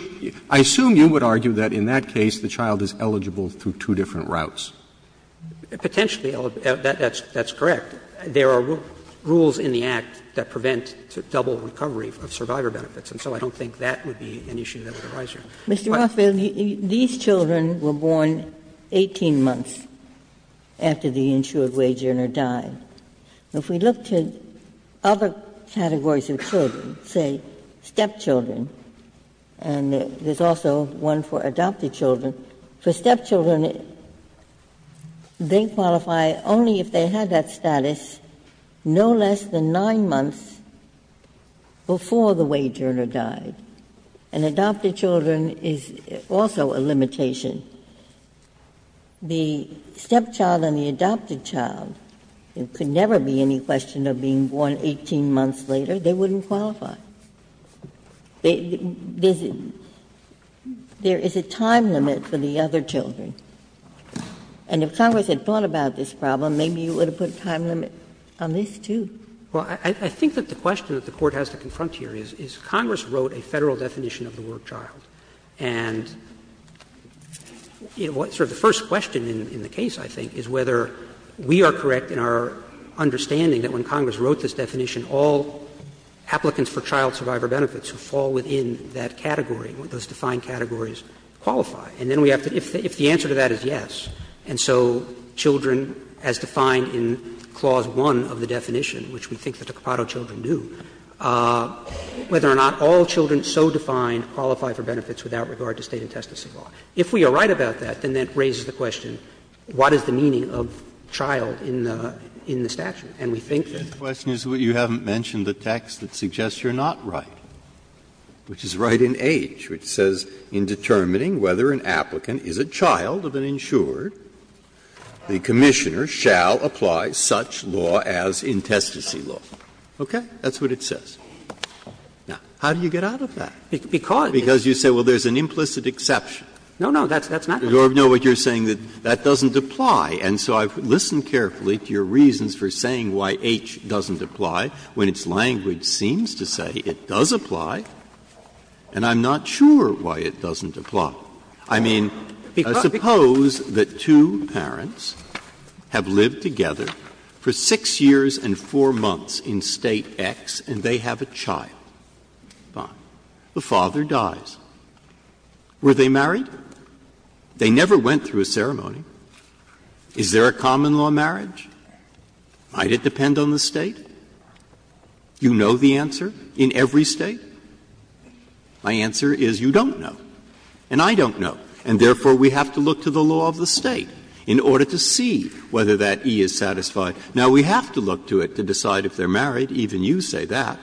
I assume you would argue that in that case, the child is eligible through two different routes. Roberts Potentially eligible. That's correct. There are rules in the Act that prevent double recovery of survivor benefits, and so I don't think that would be an issue that would arise here. Ginsburg Mr. Rothfeld, these children were born 18 months after the insured wage earner died. If we look to other categories of children, say stepchildren, and there's also one for adopted children. For stepchildren, they qualify only if they had that status no less than 9 months before the wage earner died. And adopted children is also a limitation. The stepchild and the adopted child, there could never be any question of being born 18 months later, they wouldn't qualify. There is a time limit for the other children. And if Congress had thought about this problem, maybe you would have put a time limit on this, too. Roberts Well, I think that the question that the Court has to confront here is, is Congress wrote a Federal definition of the work child. And sort of the first question in the case, I think, is whether we are correct in our understanding that when Congress wrote this definition, all applicants for child survivor benefits fall within that category, those defined categories qualify. And then we have to, if the answer to that is yes, and so children, as defined in Clause 1 of the definition, which we think that the Capado children do, whether or not all children so defined qualify for benefits without regard to state and test of civil law. If we are right about that, then that raises the question, what is the meaning of child in the statute? And we think that the question is what you haven't mentioned, the text that suggests you are not right, which is right in H, which says, In determining whether an applicant is a child of an insured, the Commissioner shall apply such law as intestacy law. Okay? That's what it says. Now, how do you get out of that? Because you say, well, there is an implicit exception. No, no, that's not true. I know what you are saying, that that doesn't apply. And so I have listened carefully to your reasons for saying why H doesn't apply when its language seems to say it does apply, and I'm not sure why it doesn't apply. I mean, suppose that two parents have lived together for 6 years and 4 months in State X and they have a child. Fine. The father dies. Were they married? They never went through a ceremony. Is there a common-law marriage? Might it depend on the State? You know the answer in every State? My answer is you don't know, and I don't know. And therefore, we have to look to the law of the State in order to see whether that E is satisfied. Now, we have to look to it to decide if they are married. Even you say that.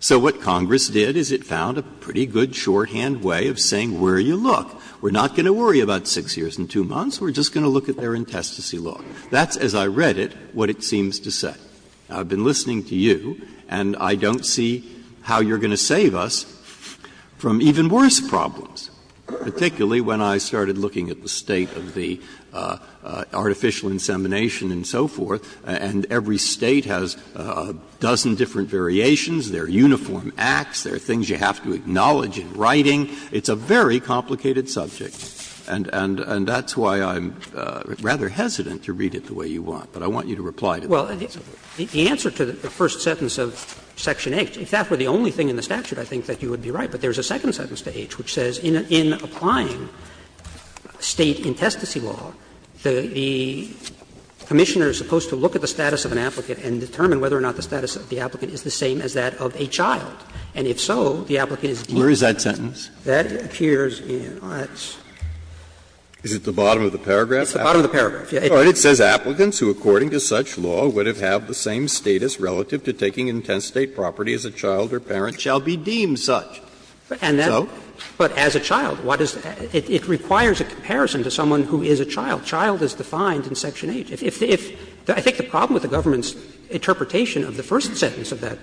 So what Congress did is it found a pretty good shorthand way of saying where you look, we are not going to worry about 6 years and 2 months, we are just going to look at their intestacy law. That's, as I read it, what it seems to say. I've been listening to you, and I don't see how you are going to save us from even worse problems, particularly when I started looking at the State of the artificial insemination and so forth, and every State has a dozen different variations. There are uniform acts. There are things you have to acknowledge in writing. It's a very complicated subject. And that's why I'm rather hesitant to read it the way you want, but I want you to reply to the answer. Well, the answer to the first sentence of section H, if that were the only thing in the statute, I think that you would be right, but there is a second sentence to H which says in applying State intestacy law, the Commissioner is supposed to look at the status of an applicant and determine whether or not the status of the applicant is the same as that of a child. And if so, the applicant is deemed to be a child. Where is that sentence? That appears in the last. Is it the bottom of the paragraph? It's the bottom of the paragraph, yes. It says, ''Applicants who according to such law would have had the same status relative to taking intestate property as a child or parent shall be deemed such.'' And then, but as a child, what is the other? It requires a comparison to someone who is a child. Child is defined in section H. If the, if the, I think the problem with the government's interpretation of the first sentence of that,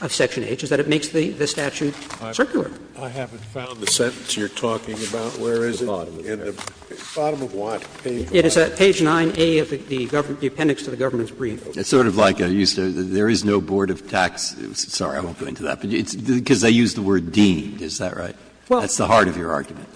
of section H, is that it makes the statute circular. I haven't found the sentence you're talking about. Where is it? The bottom of the paragraph. In the bottom of what, page 9? It is at page 9A of the government, the appendix to the government's brief. It's sort of like I used to, there is no board of tax, sorry, I won't go into that, but it's because they use the word ''deemed'', is that right? That's the heart of your argument.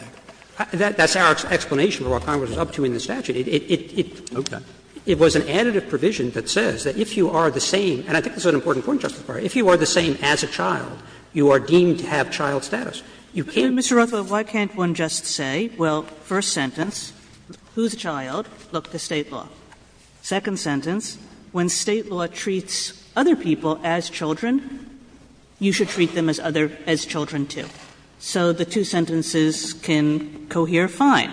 That's our explanation for what Congress is up to in the statute. It, it, it, it, it was an additive provision that says that if you are the same, and I think this is an important point, Justice Breyer, if you are the same as a child, you are deemed to have child status. You can't. Kagan. Mr. Rothfeld, why can't one just say, well, first sentence, whose child? Look to state law. Second sentence, when state law treats other people as children, you should treat them as other, as children, too. So the two sentences can cohere fine.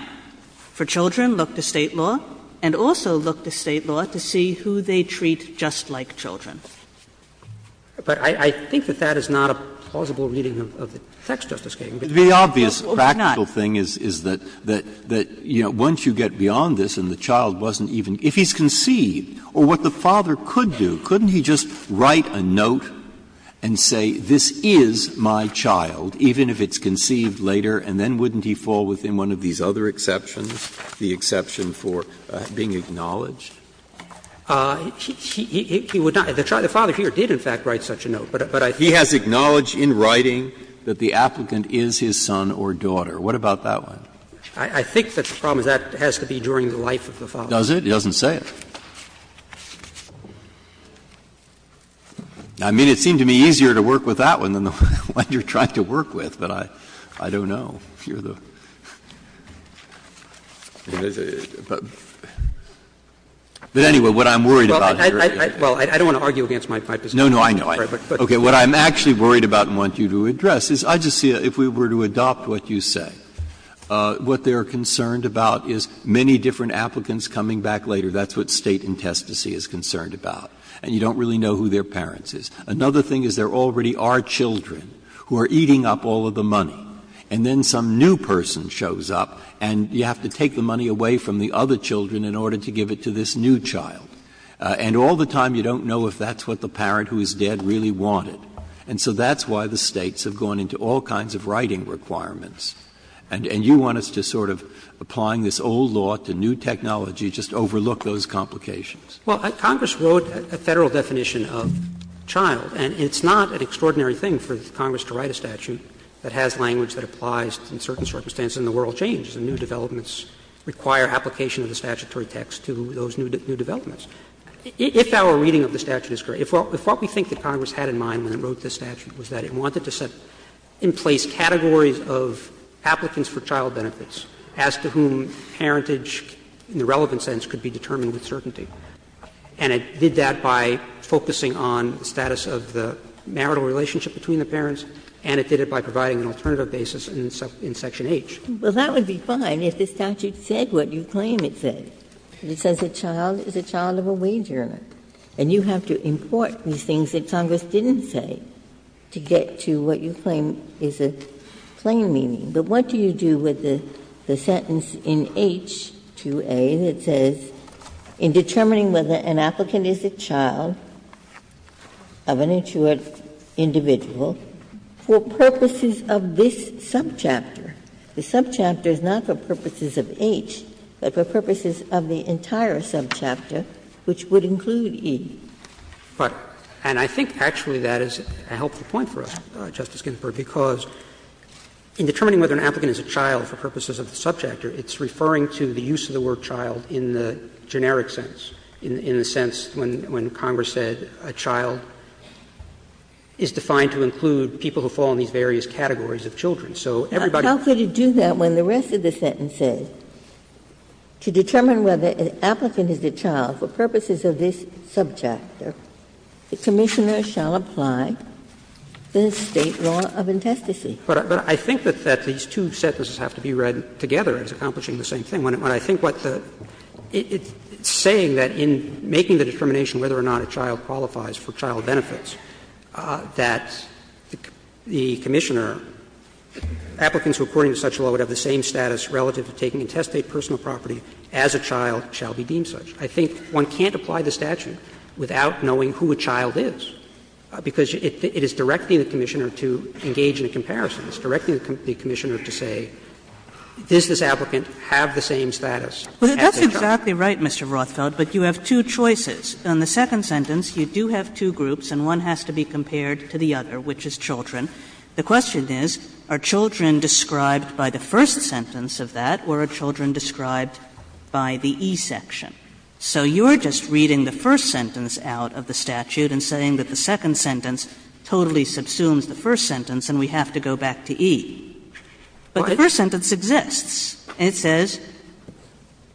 For children, look to state law, and also look to state law to see who they treat just like children. But I, I think that that is not a plausible reading of the text, Justice Kagan. The obvious practical thing is, is that, that, that, you know, once you get beyond this and the child wasn't even, if he's conceived, or what the father could do, couldn't he just write a note and say, this is my child, even if it's conceived later, and then wouldn't he fall within one of these other exceptions, the exception for being acknowledged? He, he, he, he would not, the child, the father here did, in fact, write such a note, but, but I. He has acknowledged in writing that the applicant is his son or daughter. What about that one? I, I think that the problem is that has to be during the life of the father. Does it? It doesn't say it. I mean, it seemed to me easier to work with that one than the one you're trying to work with, but I, I don't know. But anyway, what I'm worried about here is. Well, I don't want to argue against my position. No, no, I know. Okay. What I'm actually worried about and want you to address is, I just see, if we were to adopt what you say, what they're concerned about is many different applicants coming back later. That's what State and Testacy is concerned about, and you don't really know who their parents is. Another thing is, there already are children who are eating up all of the money, and then some new person shows up, and you have to take the money away from the other children in order to give it to this new child. And all the time you don't know if that's what the parent who is dead really wanted. And so that's why the States have gone into all kinds of writing requirements. And, and you want us to sort of, applying this old law to new technology, just overlook those complications. Well, Congress wrote a Federal definition of child, and it's not an extraordinary thing for Congress to write a statute that has language that applies in certain circumstances. And the world changes, and new developments require application of the statutory text to those new developments. If our reading of the statute is correct, if what we think that Congress had in mind when it wrote this statute was that it wanted to set in place categories of applicants for child benefits as to whom parentage in the relevant sense could be determined with certainty, and it did that by focusing on the status of the marital relationship between the parents, and it did it by providing an alternative basis in section H. Ginsburg. Well, that would be fine if the statute said what you claim it said. It says a child is a child of a wage earner, and you have to import these things that Congress didn't say to get to what you claim is a plain meaning. But what do you do with the sentence in H-2A that says, in determining whether an applicant is a child of an insured individual, for purposes of this subchapter? The subchapter is not for purposes of H, but for purposes of the entire subchapter, which would include E. But and I think actually that is a helpful point for us, Justice Ginsburg, because in determining whether an applicant is a child for purposes of the subchapter, it's referring to the use of the word child in the generic sense, in the sense when Congress said a child is defined to include people who fall in these various categories of children. So everybody can say that. How could it do that when the rest of the sentence says, to determine whether an applicant is a child for purposes of this subchapter, the Commissioner shall apply the State law of intestacy? But I think that these two sentences have to be read together as accomplishing the same thing. When I think what the – it's saying that in making the determination whether or not a child qualifies for child benefits, that the Commissioner – applicants who according to such law would have the same status relative to taking intestate personal property as a child shall be deemed such. I think one can't apply the statute without knowing who a child is, because it is directing the Commissioner to engage in a comparison. It's directing the Commissioner to say, does this applicant have the same status as a child. Kagan. Kagan. Kagan. Kagan. But you have two choices. In the second sentence, you do have two groups, and one has to be compared to the other, which is children. The question is are children described by the first sentence of that, or are children described by the E section? So you are just reading the first sentence out of the statute and saying that the Commissioner assumes the first sentence and we have to go back to E. But the first sentence exists, and it says,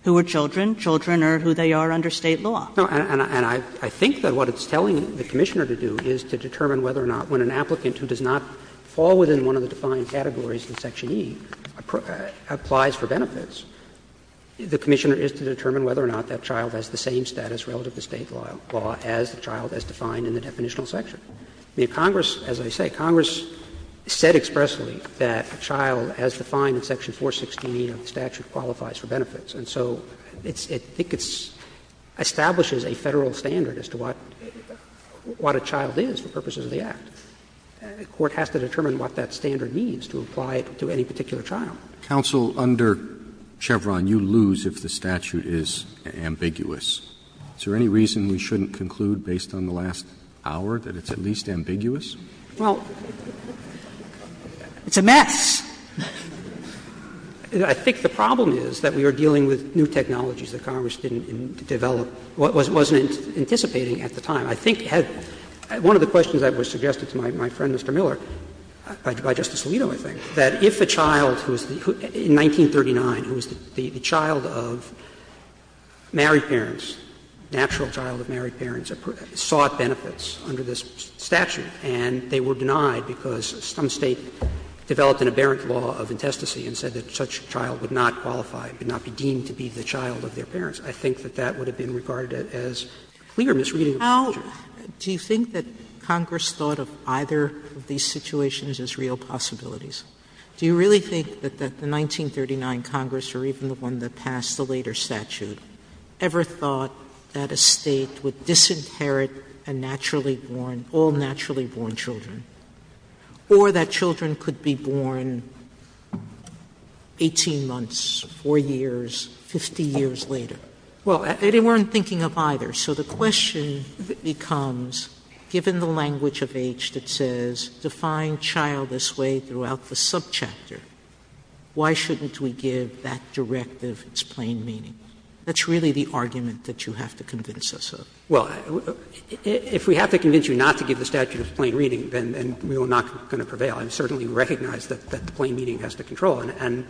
who are children, children are who they are under State law. No, and I think that what it's telling the Commissioner to do is to determine whether or not when an applicant who does not fall within one of the defined categories in Section E applies for benefits, the Commissioner is to determine whether or not that child has the same status relative to State law as the child as defined in the definitional section. I mean, Congress, as I say, Congress said expressly that a child as defined in Section 416 of the statute qualifies for benefits. And so it's – I think it establishes a Federal standard as to what a child is for purposes of the Act. A court has to determine what that standard means to apply it to any particular child. Roberts. Counsel, under Chevron, you lose if the statute is ambiguous. Is there any reason we shouldn't conclude based on the last hour that it's at least ambiguous? Well, it's a mess. I think the problem is that we are dealing with new technologies that Congress didn't develop, wasn't anticipating at the time. I think one of the questions that was suggested to my friend, Mr. Miller, by Justice Alito, I think, that if a child who is the – in 1939, who is the child of married parents, natural child of married parents, sought benefits under this statute and they were denied because some State developed an aberrant law of intestacy and said that such a child would not qualify, would not be deemed to be the child of their parents, I think that that would have been regarded as clear misreading of the statute. How do you think that Congress thought of either of these situations as real possibilities? Do you really think that the 1939 Congress, or even the one that passed the later statute, ever thought that a State would disinherit a naturally born – all naturally born children, or that children could be born 18 months, 4 years, 50 years later? Well, they weren't thinking of either. So the question becomes, given the language of age that says define child this way throughout the subchapter, why shouldn't we give that directive its plain meaning? That's really the argument that you have to convince us of. Well, if we have to convince you not to give the statute its plain reading, then we are not going to prevail. I certainly recognize that the plain meaning has the control. And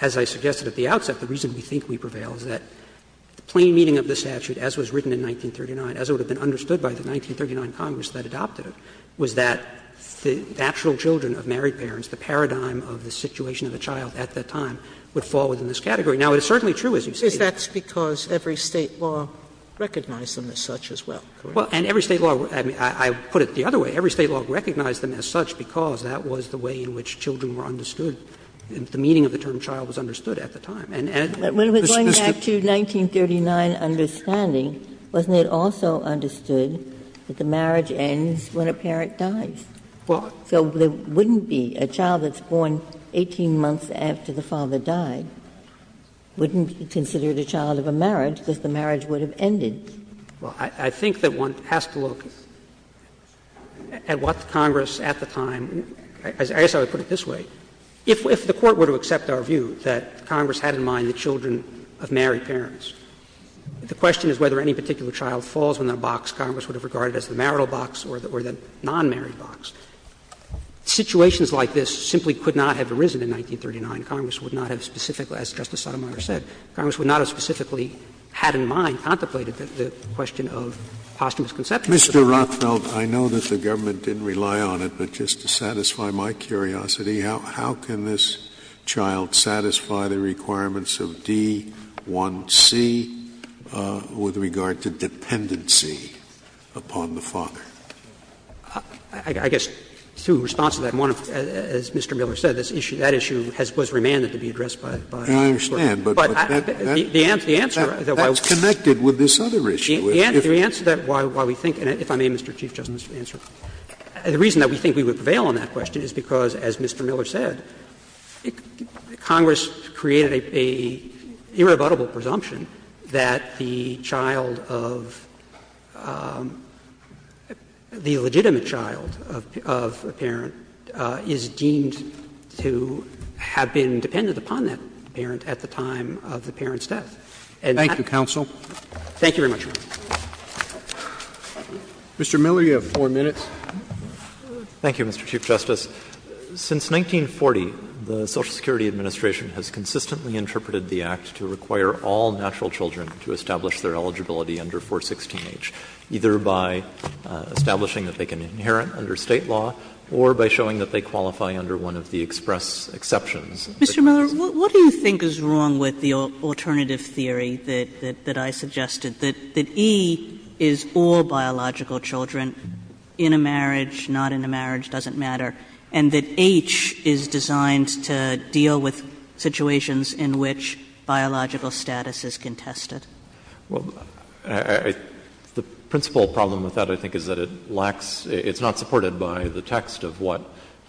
as I suggested at the outset, the reason we think we prevail is that the plain meaning of the statute, as was written in 1939, as it would have been understood by the 1939 Congress that adopted it, was that the actual children of married parents, the paradigm of the situation of a child at that time, would fall within this category. Now, it is certainly true, as you say. Is that because every State law recognized them as such as well? Well, and every State law – I put it the other way. Every State law recognized them as such because that was the way in which children were understood, the meaning of the term child was understood at the time. And it was just a – But going back to 1939 understanding, wasn't it also understood that the marriage ends when a parent dies? So there wouldn't be a child that's born 18 months after the father died, wouldn't be considered a child of a marriage, because the marriage would have ended. Well, I think that one has to look at what the Congress at the time – I guess I would put it this way. If the Court were to accept our view that Congress had in mind the children of married parents, the question is whether any particular child falls within a box Congress would have regarded as the marital box or the non-married box. Situations like this simply could not have arisen in 1939. Congress would not have specifically, as Justice Sotomayor said, Congress would not have specifically had in mind, contemplated the question of posthumous conception of the child. Mr. Rothfeld, I know that the government didn't rely on it, but just to satisfy my curiosity, how can this child satisfy the requirements of D1C with regard to dependency upon the father? I guess, through response to that, as Mr. Miller said, that issue was remanded to be addressed by the Court. I understand, but that's connected with this other issue. The answer to that, why we think – and if I may, Mr. Chief Justice, answer. The reason that we think we would prevail on that question is because, as Mr. Miller said, Congress created an irrebuttable presumption that the child of – the legitimate child of a parent is deemed to have been dependent upon that parent at the time of the parent's death. Thank you, counsel. Thank you very much, Your Honor. Mr. Miller, you have 4 minutes. Thank you, Mr. Chief Justice. Since 1940, the Social Security Administration has consistently interpreted the Act to require all natural children to establish their eligibility under 416H, either by establishing that they can inherit under State law or by showing that they qualify under one of the express exceptions. Mr. Miller, what do you think is wrong with the alternative theory that I suggested, that E is all biological children in a marriage, not in a marriage, doesn't matter, and that H is designed to deal with situations in which biological status is contested? Well, the principal problem with that, I think, is that it lacks – it's not supported by the text of what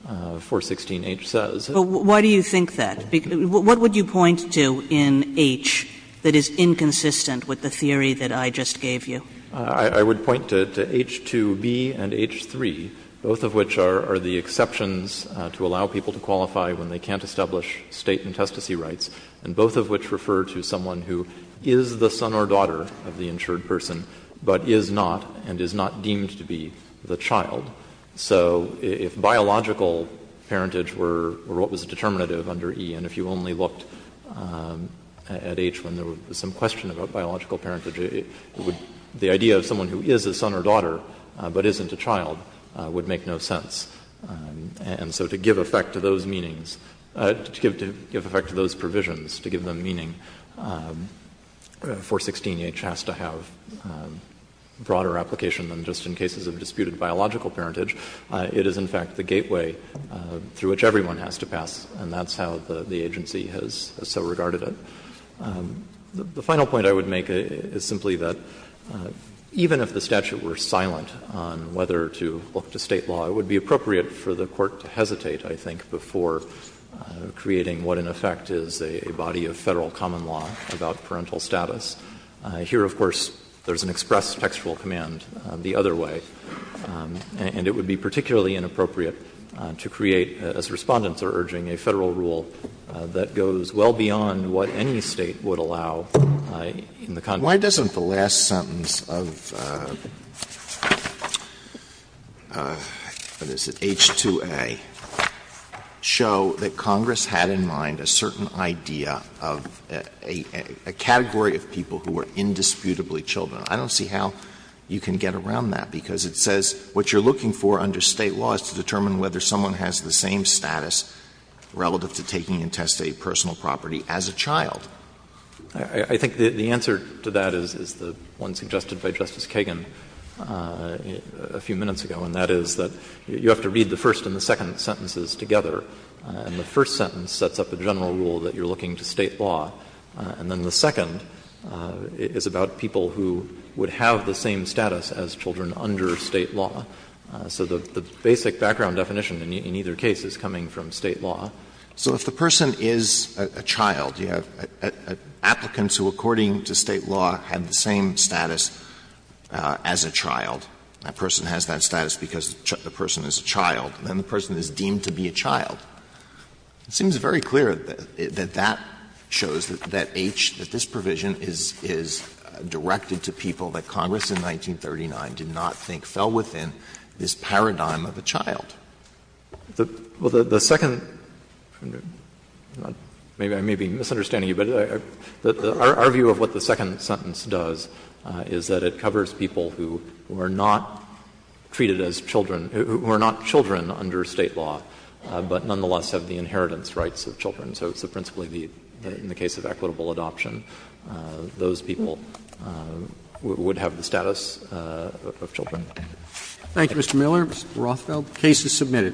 416H says. But why do you think that? What would you point to in H that is inconsistent with the theory that I just gave you? I would point to H2B and H3, both of which are the exceptions to allow people to qualify when they can't establish State intestacy rights, and both of which refer to someone who is the son or daughter of the insured person, but is not and is not deemed to be the child. So if biological parentage were what was determinative under E, and if you only looked at H when there was some question about biological parentage, it would – the idea of someone who is a son or daughter but isn't a child would make no sense. And so to give effect to those meanings – to give effect to those provisions, to give them meaning, 416H has to have broader application than just in cases of disputed biological parentage. It is, in fact, the gateway through which everyone has to pass, and that's how the agency has so regarded it. The final point I would make is simply that even if the statute were silent on whether to look to State law, it would be appropriate for the Court to hesitate, I think, before creating what in effect is a body of Federal common law about parental status. Here, of course, there's an express textual command the other way. And it would be particularly inappropriate to create, as Respondents are urging, a Federal rule that goes well beyond what any State would allow in the context of this. Alito, why doesn't the last sentence of, what is it, H2A, show that Congress had in mind a certain idea of a category of people who were indisputably children? I don't see how you can get around that, because it says what you're looking for under State law is to determine whether someone has the same status relative to taking and testing a personal property as a child. I think the answer to that is the one suggested by Justice Kagan a few minutes ago, and that is that you have to read the first and the second sentences together. And the first sentence sets up a general rule that you're looking to State law, and the second is about people who would have the same status as children under State law. So the basic background definition in either case is coming from State law. Alito, so if the person is a child, you have applicants who, according to State law, have the same status as a child, that person has that status because the person is a child, then the person is deemed to be a child. It seems very clear that that shows that H, that this provision is directed to people that Congress in 1939 did not think fell within this paradigm of a child. Well, the second — maybe I'm misunderstanding you, but our view of what the second sentence does is that it covers people who are not treated as children, who are not children, but nonetheless have the inheritance rights of children. So it's principally the — in the case of equitable adoption, those people would have the status of children. Thank you, Mr. Miller. Mr. Rothfeld, the case is submitted.